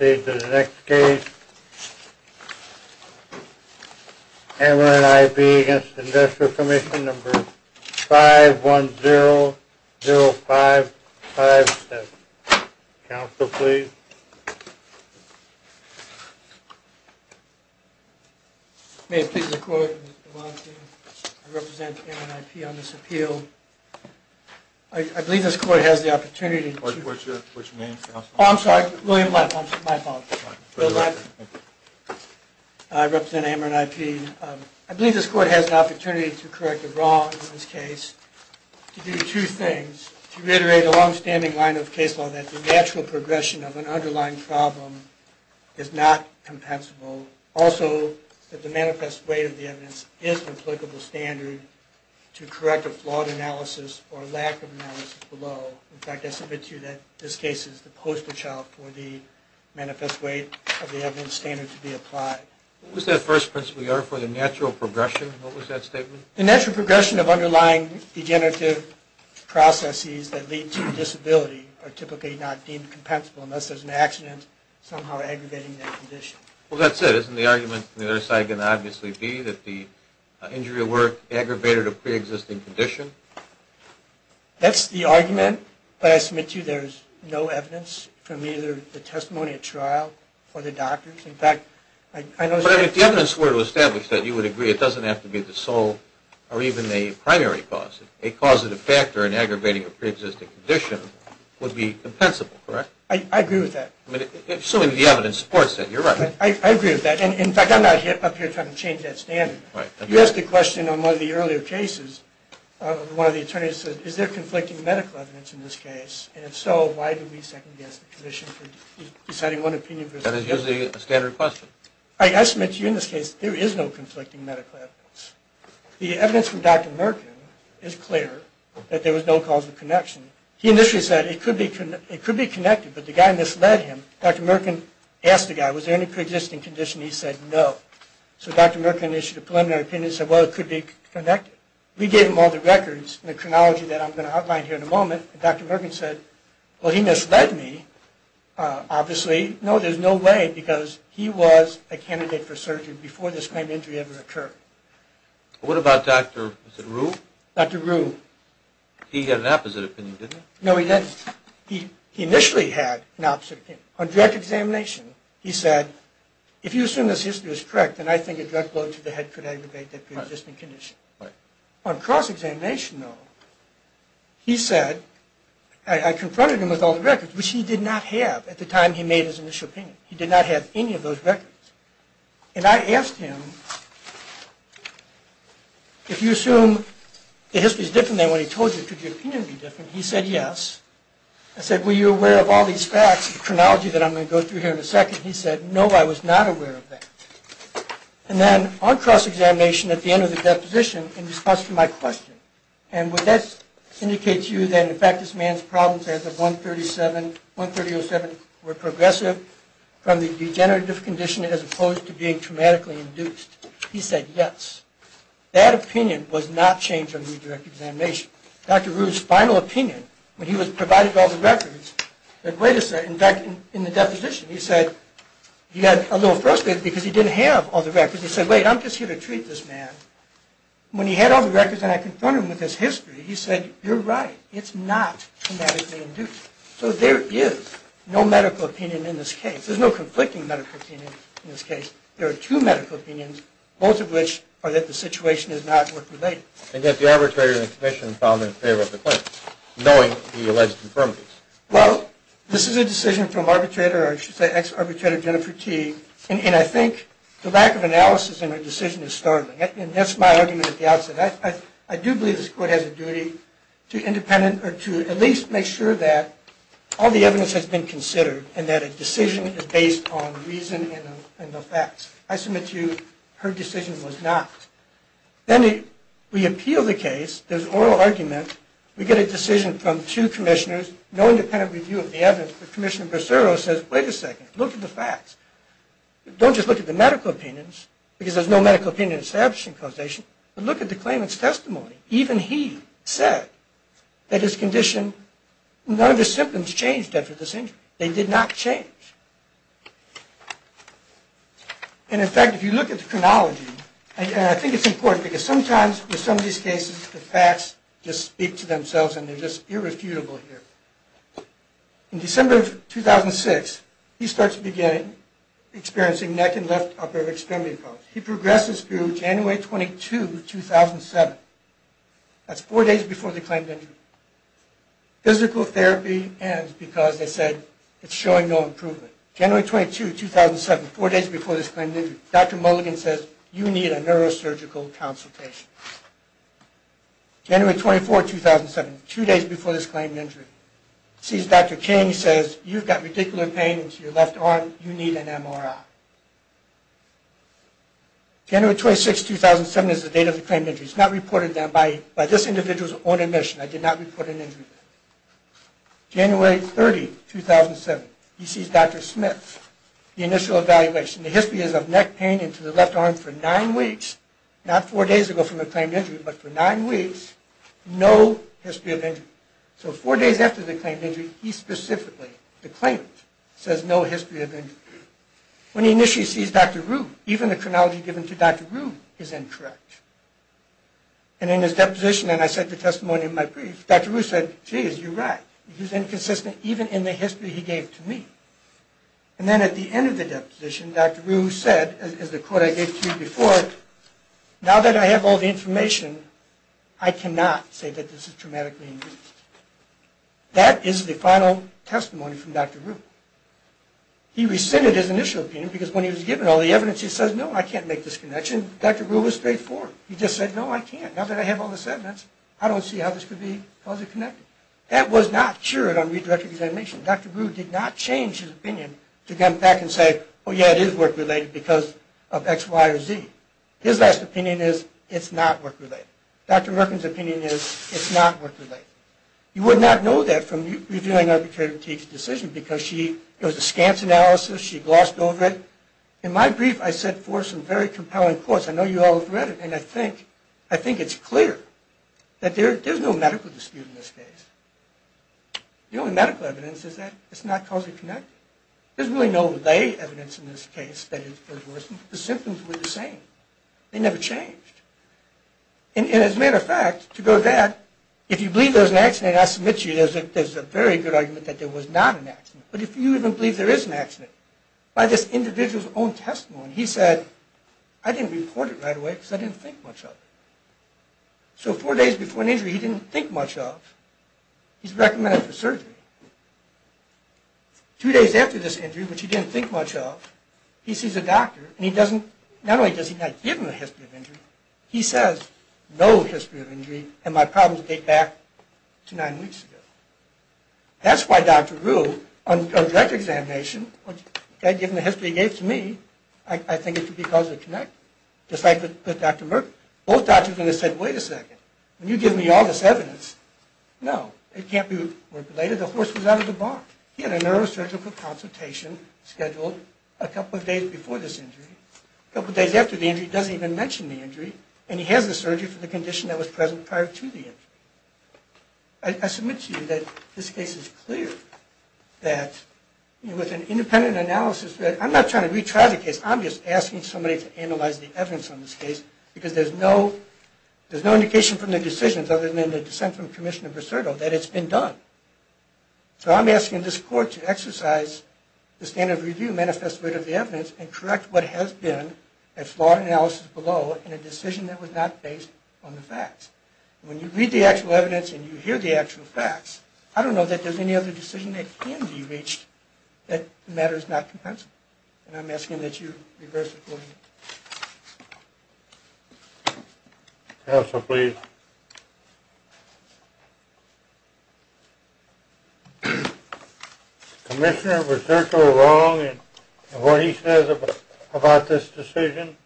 Next case, Ameren IP v. Investor Commission 5100557 Counsel please May I please have the court to volunteer to represent Ameren IP on this appeal? I believe this court has the opportunity to What's your name, Counsel? Oh, I'm sorry, William Leff. My fault. I represent Ameren IP. I believe this court has the opportunity to correct a wrong in this case. To do two things. To reiterate a long-standing line of case law that the natural progression of an underlying problem is not compensable. Also, that the manifest weight of the evidence is an applicable standard to correct a flawed analysis or lack of analysis below. In fact, I submit to you that this case is the postal child for the manifest weight of the evidence standard to be applied. What was that first principle you offered for the natural progression? What was that statement? The natural progression of underlying degenerative processes that lead to disability are typically not deemed compensable unless there's an accident somehow aggravating that condition. Well, that's it. Isn't the argument from the other side going to obviously be that the injury at work aggravated a pre-existing condition? That's the argument, but I submit to you there's no evidence from either the testimony at trial or the doctors. In fact, I know... But if the evidence were to establish that, you would agree it doesn't have to be the sole or even the primary cause. A causative factor in aggravating a pre-existing condition would be compensable, correct? I agree with that. Assuming the evidence supports that, you're right. I agree with that. In fact, I'm not up here trying to change that standard. You asked a question on one of the earlier cases. One of the attorneys said, is there conflicting medical evidence in this case? And if so, why do we second-guess the condition for deciding one opinion versus the other? That is usually a standard question. I submit to you in this case there is no conflicting medical evidence. The evidence from Dr. Merkin is clear that there was no causal connection. He initially said it could be connected, but the guy misled him. Dr. Merkin asked the guy, was there any pre-existing condition? He said no. So Dr. Merkin issued a preliminary opinion and said, well, it could be connected. We gave him all the records and the chronology that I'm going to outline here in a moment. Dr. Merkin said, well, he misled me, obviously. No, there's no way because he was a candidate for surgery before this kind of injury ever occurred. What about Dr. Rue? Dr. Rue. He had an opposite opinion, didn't he? No, he didn't. He initially had an opposite opinion. On direct examination, he said, if you assume this history is correct, then I think a drug blow to the head could aggravate that pre-existing condition. Right. On cross-examination, though, he said, I confronted him with all the records, which he did not have at the time he made his initial opinion. He did not have any of those records. And I asked him, if you assume the history is different than what he told you, could your opinion be different? He said yes. I said, were you aware of all these facts, the chronology that I'm going to go through here in a second? He said, no, I was not aware of that. And then on cross-examination, at the end of the deposition, in response to my question, and would that indicate to you that, in fact, this man's problems as of 1307 were progressive from the degenerative condition as opposed to being traumatically induced? He said yes. That opinion was not changed on redirect examination. Which, Dr. Rude's final opinion, when he was provided all the records, that way to say, in fact, in the deposition, he said, he had a little frustrated because he didn't have all the records. He said, wait, I'm just here to treat this man. When he had all the records and I confronted him with his history, he said, you're right. It's not traumatically induced. So there is no medical opinion in this case. There's no conflicting medical opinion in this case. There are two medical opinions, both of which are that the situation is not work-related. And yet the arbitrator and the commission found them in favor of the claim, knowing the alleged infirmities. Well, this is a decision from arbitrator, or I should say ex-arbitrator, Jennifer T. And I think the lack of analysis in her decision is startling. And that's my argument at the outset. I do believe this Court has a duty to independent or to at least make sure that all the evidence has been considered and that a decision is based on reason and the facts. I submit to you her decision was not. Then we appeal the case. There's oral argument. We get a decision from two commissioners, no independent review of the evidence. But Commissioner Bracero says, wait a second. Look at the facts. Don't just look at the medical opinions, because there's no medical opinion in establishing causation. But look at the claimant's testimony. Even he said that his condition, none of his symptoms changed after this injury. They did not change. And, in fact, if you look at the chronology, and I think it's important, because sometimes with some of these cases the facts just speak to themselves and they're just irrefutable here. In December of 2006, he starts at the beginning experiencing neck and left upper extremity problems. He progresses through January 22, 2007. That's four days before the claimed injury. Physical therapy ends because they said it's showing no improvement. January 22, 2007, four days before this claimed injury. Dr. Mulligan says, you need a neurosurgical consultation. January 24, 2007, two days before this claimed injury. He sees Dr. King. He says, you've got radicular pain to your left arm. You need an MRI. January 26, 2007 is the date of the claimed injury. It's not reported by this individual's own admission. I did not report an injury. January 30, 2007, he sees Dr. Smith, the initial evaluation. The history is of neck pain into the left arm for nine weeks, not four days ago from the claimed injury, but for nine weeks, no history of injury. So four days after the claimed injury, he specifically, the claimant, says no history of injury. When he initially sees Dr. Rue, even the chronology given to Dr. Rue is incorrect. And in his deposition, and I said the testimony in my brief, Dr. Rue said, geez, you're right. He's inconsistent even in the history he gave to me. And then at the end of the deposition, Dr. Rue said, as the quote I gave to you before, now that I have all the information, I cannot say that this is traumatically increased. That is the final testimony from Dr. Rue. He rescinded his initial opinion because when he was given all the evidence, he says, no, I can't make this connection. Dr. Rue was straightforward. He just said, no, I can't. Now that I have all the statements, I don't see how this could be closely connected. That was not cured on redirected examination. Dr. Rue did not change his opinion to come back and say, oh, yeah, it is work-related because of X, Y, or Z. His last opinion is, it's not work-related. Dr. Merkin's opinion is, it's not work-related. You would not know that from reviewing Arbitrary Critique's decision because she, it was a scant analysis. She glossed over it. In my brief, I set forth some very compelling quotes. I know you all have read it. And I think it's clear that there's no medical dispute in this case. The only medical evidence is that it's not closely connected. There's really no lay evidence in this case that it worsened. The symptoms were the same. They never changed. And as a matter of fact, to go to that, if you believe there was an accident, I submit to you there's a very good argument that there was not an accident. But if you even believe there is an accident, by this individual's own testimony, he said, I didn't report it right away because I didn't think much of it. So four days before an injury he didn't think much of, he's recommended for surgery. Two days after this injury, which he didn't think much of, he sees a doctor and he doesn't, not only does he not give him a history of injury, he says, no history of injury and my problems date back to nine weeks ago. That's why Dr. Rue, on direct examination, the guy gave him the history he gave to me, I think it could be causally connected. Just like with Dr. Merck, both doctors said, wait a second, when you give me all this evidence, no, it can't be related. The horse was out of the barn. He had a neurosurgical consultation scheduled a couple of days before this injury. A couple of days after the injury he doesn't even mention the injury and he has the surgery for the condition that was present prior to the injury. I submit to you that this case is clear, that with an independent analysis, I'm not trying to retry the case, I'm just asking somebody to analyze the evidence on this case because there's no indication from the decisions, other than the dissent from Commissioner Brasurdo, that it's been done. So I'm asking this court to exercise the standard of review manifest rate of the evidence and correct what has been a flawed analysis below and a decision that was not based on the facts. When you read the actual evidence and you hear the actual facts, I don't know that there's any other decision that can be reached that matters not. And I'm asking that you reverse it for me. Counsel, please. Commissioner Brasurdo wrong in what he says about this decision?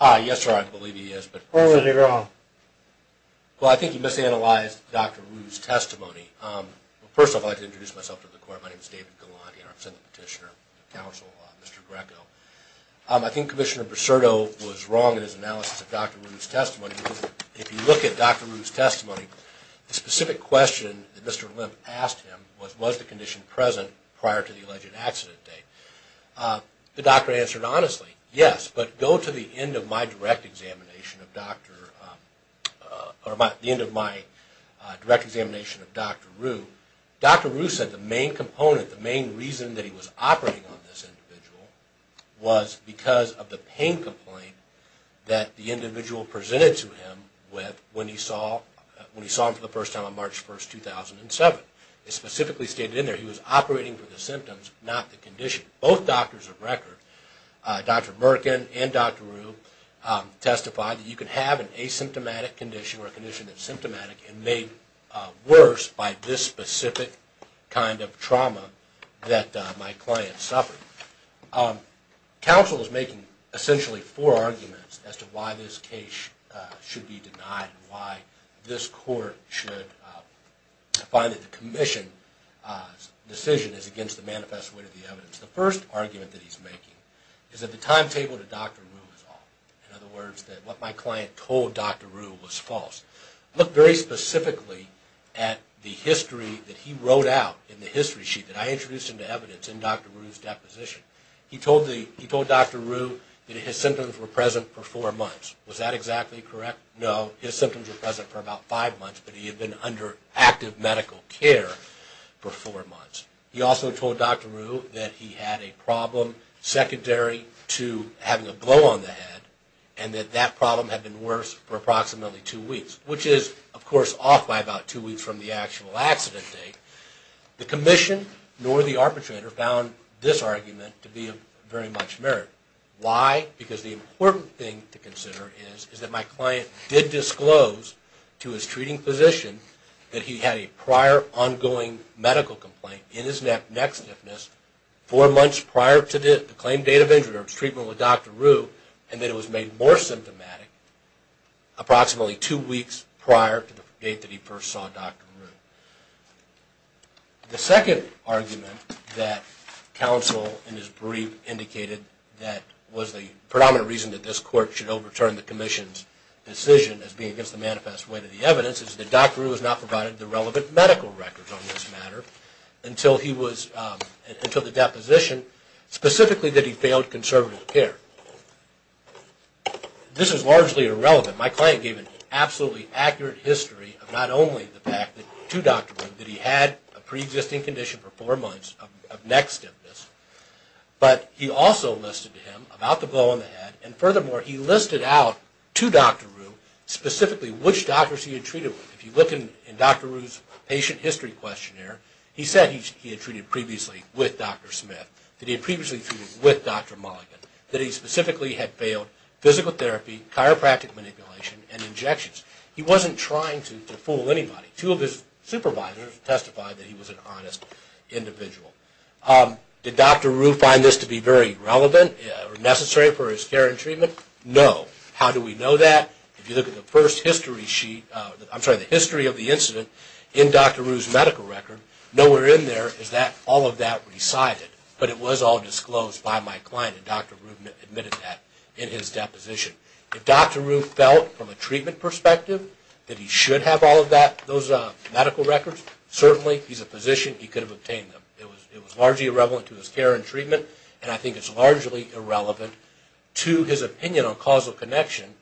Yes, sir, I believe he is. When was he wrong? Well, I think he misanalyzed Dr. Rue's testimony. First, I'd like to introduce myself to the court. My name is David Galanti and I'm sitting petitioner of counsel, Mr. Greco. I think Commissioner Brasurdo was wrong in his analysis of Dr. Rue's testimony. If you look at Dr. Rue's testimony, the specific question that Mr. Olymp asked him was, was the condition present prior to the alleged accident date? The doctor answered honestly, yes, but go to the end of my direct examination of Dr. Rue. Dr. Rue said the main component, the main reason that he was operating on this individual was because of the pain complaint that the individual presented to him when he saw him for the first time on March 1, 2007. It specifically stated in there he was operating for the symptoms, not the condition. Both doctors of record, Dr. Merkin and Dr. Rue, testified that you can have an asymptomatic condition or a condition that's symptomatic and made worse by this specific kind of trauma that my client suffered. Counsel is making essentially four arguments as to why this case should be denied and why this court should find that the commission's decision is against the manifest way to the evidence. The first argument that he's making is that the timetable to Dr. Rue is off. In other words, that what my client told Dr. Rue was false. Look very specifically at the history that he wrote out in the history sheet that I introduced into evidence in Dr. Rue's deposition. He told Dr. Rue that his symptoms were present for four months. Was that exactly correct? No. His symptoms were present for about five months, but he had been under active medical care for four months. He also told Dr. Rue that he had a problem secondary to having a blow on the head and that that problem had been worse for approximately two weeks, which is, of course, off by about two weeks from the actual accident date. The commission nor the arbitrator found this argument to be of very much merit. Why? Because the important thing to consider is that my client did disclose to his treating physician that he had a prior ongoing medical complaint in his neck stiffness four months prior to the claimed date of injury or his treatment with Dr. Rue and that it was made more symptomatic approximately two weeks prior to the date that he first saw Dr. Rue. The second argument that counsel in his brief indicated that was the predominant reason that this court should overturn the commission's decision as being against the manifest way to the evidence is that Dr. Rue has not provided the relevant medical records on this matter until the deposition, specifically that he failed conservative care. This is largely irrelevant. My client gave an absolutely accurate history of not only the fact to Dr. Rue that he had a preexisting condition for four months of neck stiffness, but he also listed to him about the blow on the head, and furthermore he listed out to Dr. Rue specifically which doctors he had treated with. If you look in Dr. Rue's patient history questionnaire, he said he had treated previously with Dr. Smith, that he had previously treated with Dr. Mulligan, that he specifically had failed physical therapy, chiropractic manipulation, and injections. He wasn't trying to fool anybody. Two of his supervisors testified that he was an honest individual. Did Dr. Rue find this to be very relevant or necessary for his care and treatment? No. How do we know that? If you look at the history of the incident in Dr. Rue's medical record, nowhere in there is all of that recited, but it was all disclosed by my client, and Dr. Rue admitted that in his deposition. If Dr. Rue felt from a treatment perspective that he should have all of those medical records, certainly he's a physician, he could have obtained them. It was largely irrelevant to his care and treatment, and I think it's largely irrelevant to his opinion on causal connection,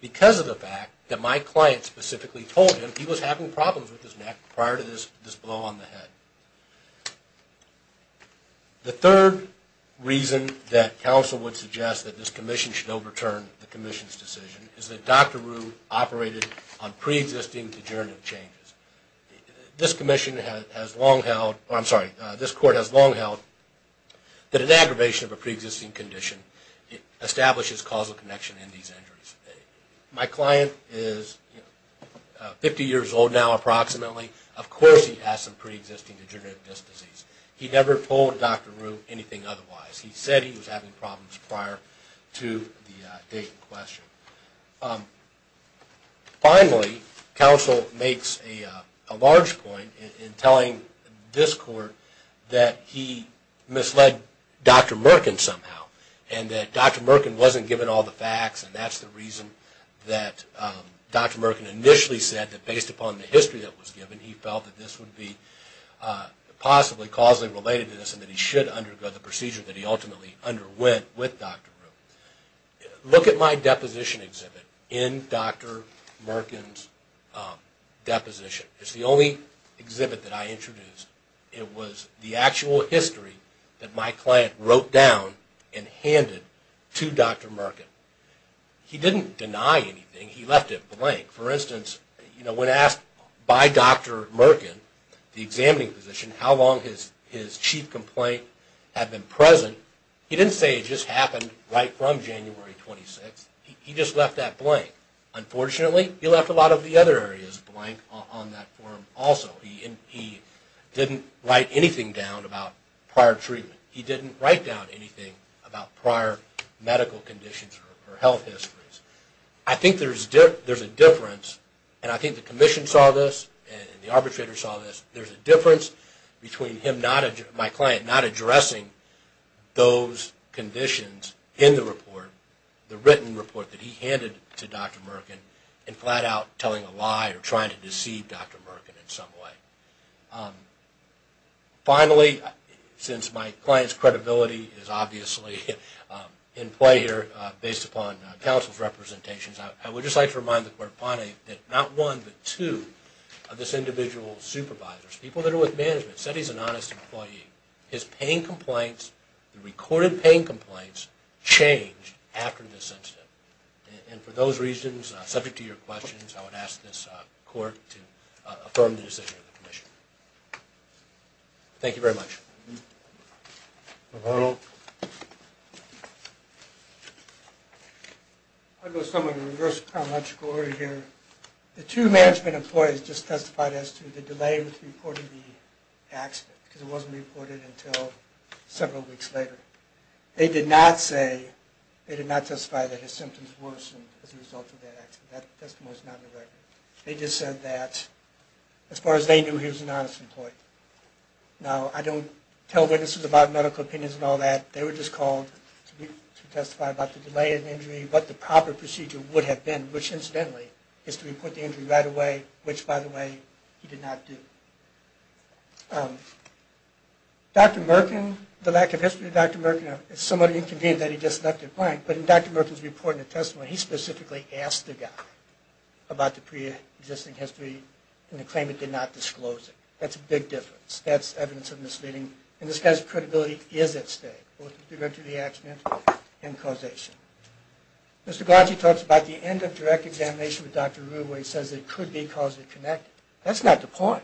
because of the fact that my client specifically told him he was having problems with his neck prior to this blow on the head. The third reason that counsel would suggest that this commission should overturn the commission's decision is that Dr. Rue operated on pre-existing degenerative changes. This commission has long held, I'm sorry, this court has long held that an aggravation of a pre-existing condition establishes causal connection in these injuries. My client is 50 years old now approximately. Of course he has some pre-existing degenerative disc disease. He never told Dr. Rue anything otherwise. He said he was having problems prior to the date in question. Finally, counsel makes a large point in telling this court that he misled Dr. Merkin somehow, and that Dr. Merkin wasn't given all the facts, and that's the reason that Dr. Merkin initially said that based upon the history that was given, he felt that this would be possibly causally related to this, and that he should undergo the procedure that he ultimately underwent with Dr. Rue. Look at my deposition exhibit in Dr. Merkin's deposition. It's the only exhibit that I introduced. It was the actual history that my client wrote down and handed to Dr. Merkin. He didn't deny anything. He left it blank. For instance, when asked by Dr. Merkin, the examining physician, how long his chief complaint had been present, he didn't say it just happened right from January 26th. He just left that blank. Unfortunately, he left a lot of the other areas blank on that form also. He didn't write anything down about prior treatment. He didn't write down anything about prior medical conditions or health histories. I think there's a difference, and I think the commission saw this, and the arbitrator saw this. There's a difference between my client not addressing those conditions in the report, the written report that he handed to Dr. Merkin, and flat out telling a lie or trying to deceive Dr. Merkin in some way. Finally, since my client's credibility is obviously in play here based upon counsel's representations, I would just like to remind the court that not one, but two of this individual's supervisors, people that are with management, said he's an honest employee. His pain complaints, the recorded pain complaints, changed after this incident. For those reasons, subject to your questions, I would ask this court to affirm the decision of the commission. Thank you very much. Mr. Perl? I'm going to go somewhat in a reverse chronological order here. The two management employees just testified as to the delay in reporting the accident, because it wasn't reported until several weeks later. They did not say, they did not testify that his symptoms worsened as a result of that accident. That testimony is not in the record. They just said that as far as they knew, he was an honest employee. Now, I don't tell witnesses about medical opinions and all that. They were just called to testify about the delay in injury, what the proper procedure would have been, which, incidentally, is to report the injury right away, which, by the way, he did not do. Dr. Merkin, the lack of history of Dr. Merkin, it's somewhat inconvenient that he just left it blank, but in Dr. Merkin's report and testimony, he specifically asked the guy about the pre-existing history and the claimant did not disclose it. That's a big difference. That's evidence of misleading, and this guy's credibility is at stake, both with regard to the accident and causation. Mr. Galanchy talks about the end of direct examination with Dr. Arruba, where he says it could be causally connected. That's not the point.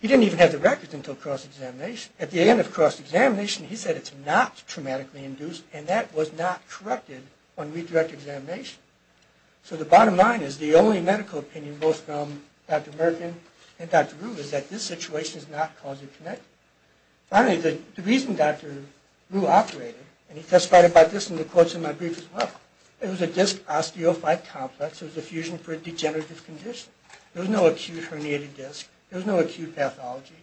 He didn't even have the records until cross-examination. At the end of cross-examination, he said it's not traumatically induced, and that was not corrected on redirect examination. So the bottom line is the only medical opinion, both from Dr. Merkin and Dr. Arruba, is that this situation is not causally connected. Finally, the reason Dr. Arruba operated, and he testified about this in the quotes in my brief as well, it was a disc osteophyte complex. It was a fusion for a degenerative condition. There was no acute herniated disc. There was no acute pathology.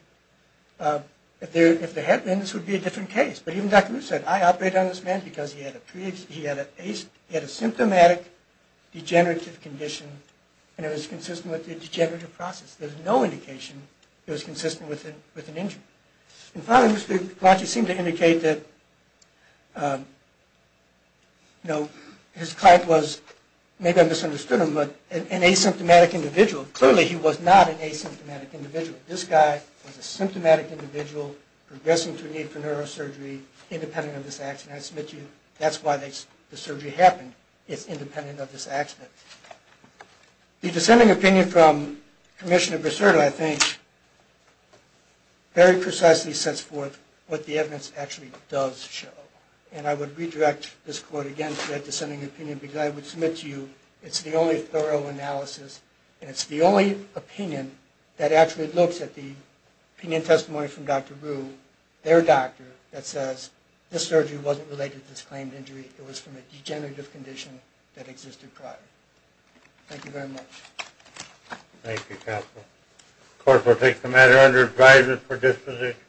If there had been, this would be a different case, but even Dr. Arruba said, I operated on this man because he had a symptomatic degenerative condition, and it was consistent with the degenerative process. There's no indication it was consistent with an injury. And finally, Mr. Galanchy seemed to indicate that his client was, maybe I misunderstood him, but an asymptomatic individual. Clearly he was not an asymptomatic individual. This guy was a symptomatic individual progressing to a need for neurosurgery, independent of this accident. I submit to you, that's why the surgery happened. It's independent of this accident. The dissenting opinion from Commissioner Brasurdo, I think, very precisely sets forth what the evidence actually does show. And I would redirect this quote again to that dissenting opinion, because I would submit to you, it's the only thorough analysis, and it's the only opinion that actually looks at the opinion testimony from Dr. Rue, their doctor, that says this surgery wasn't related to this claimed injury. It was from a degenerative condition that existed prior. Thank you very much. Thank you, counsel. The court will take the matter under advisory for disposition.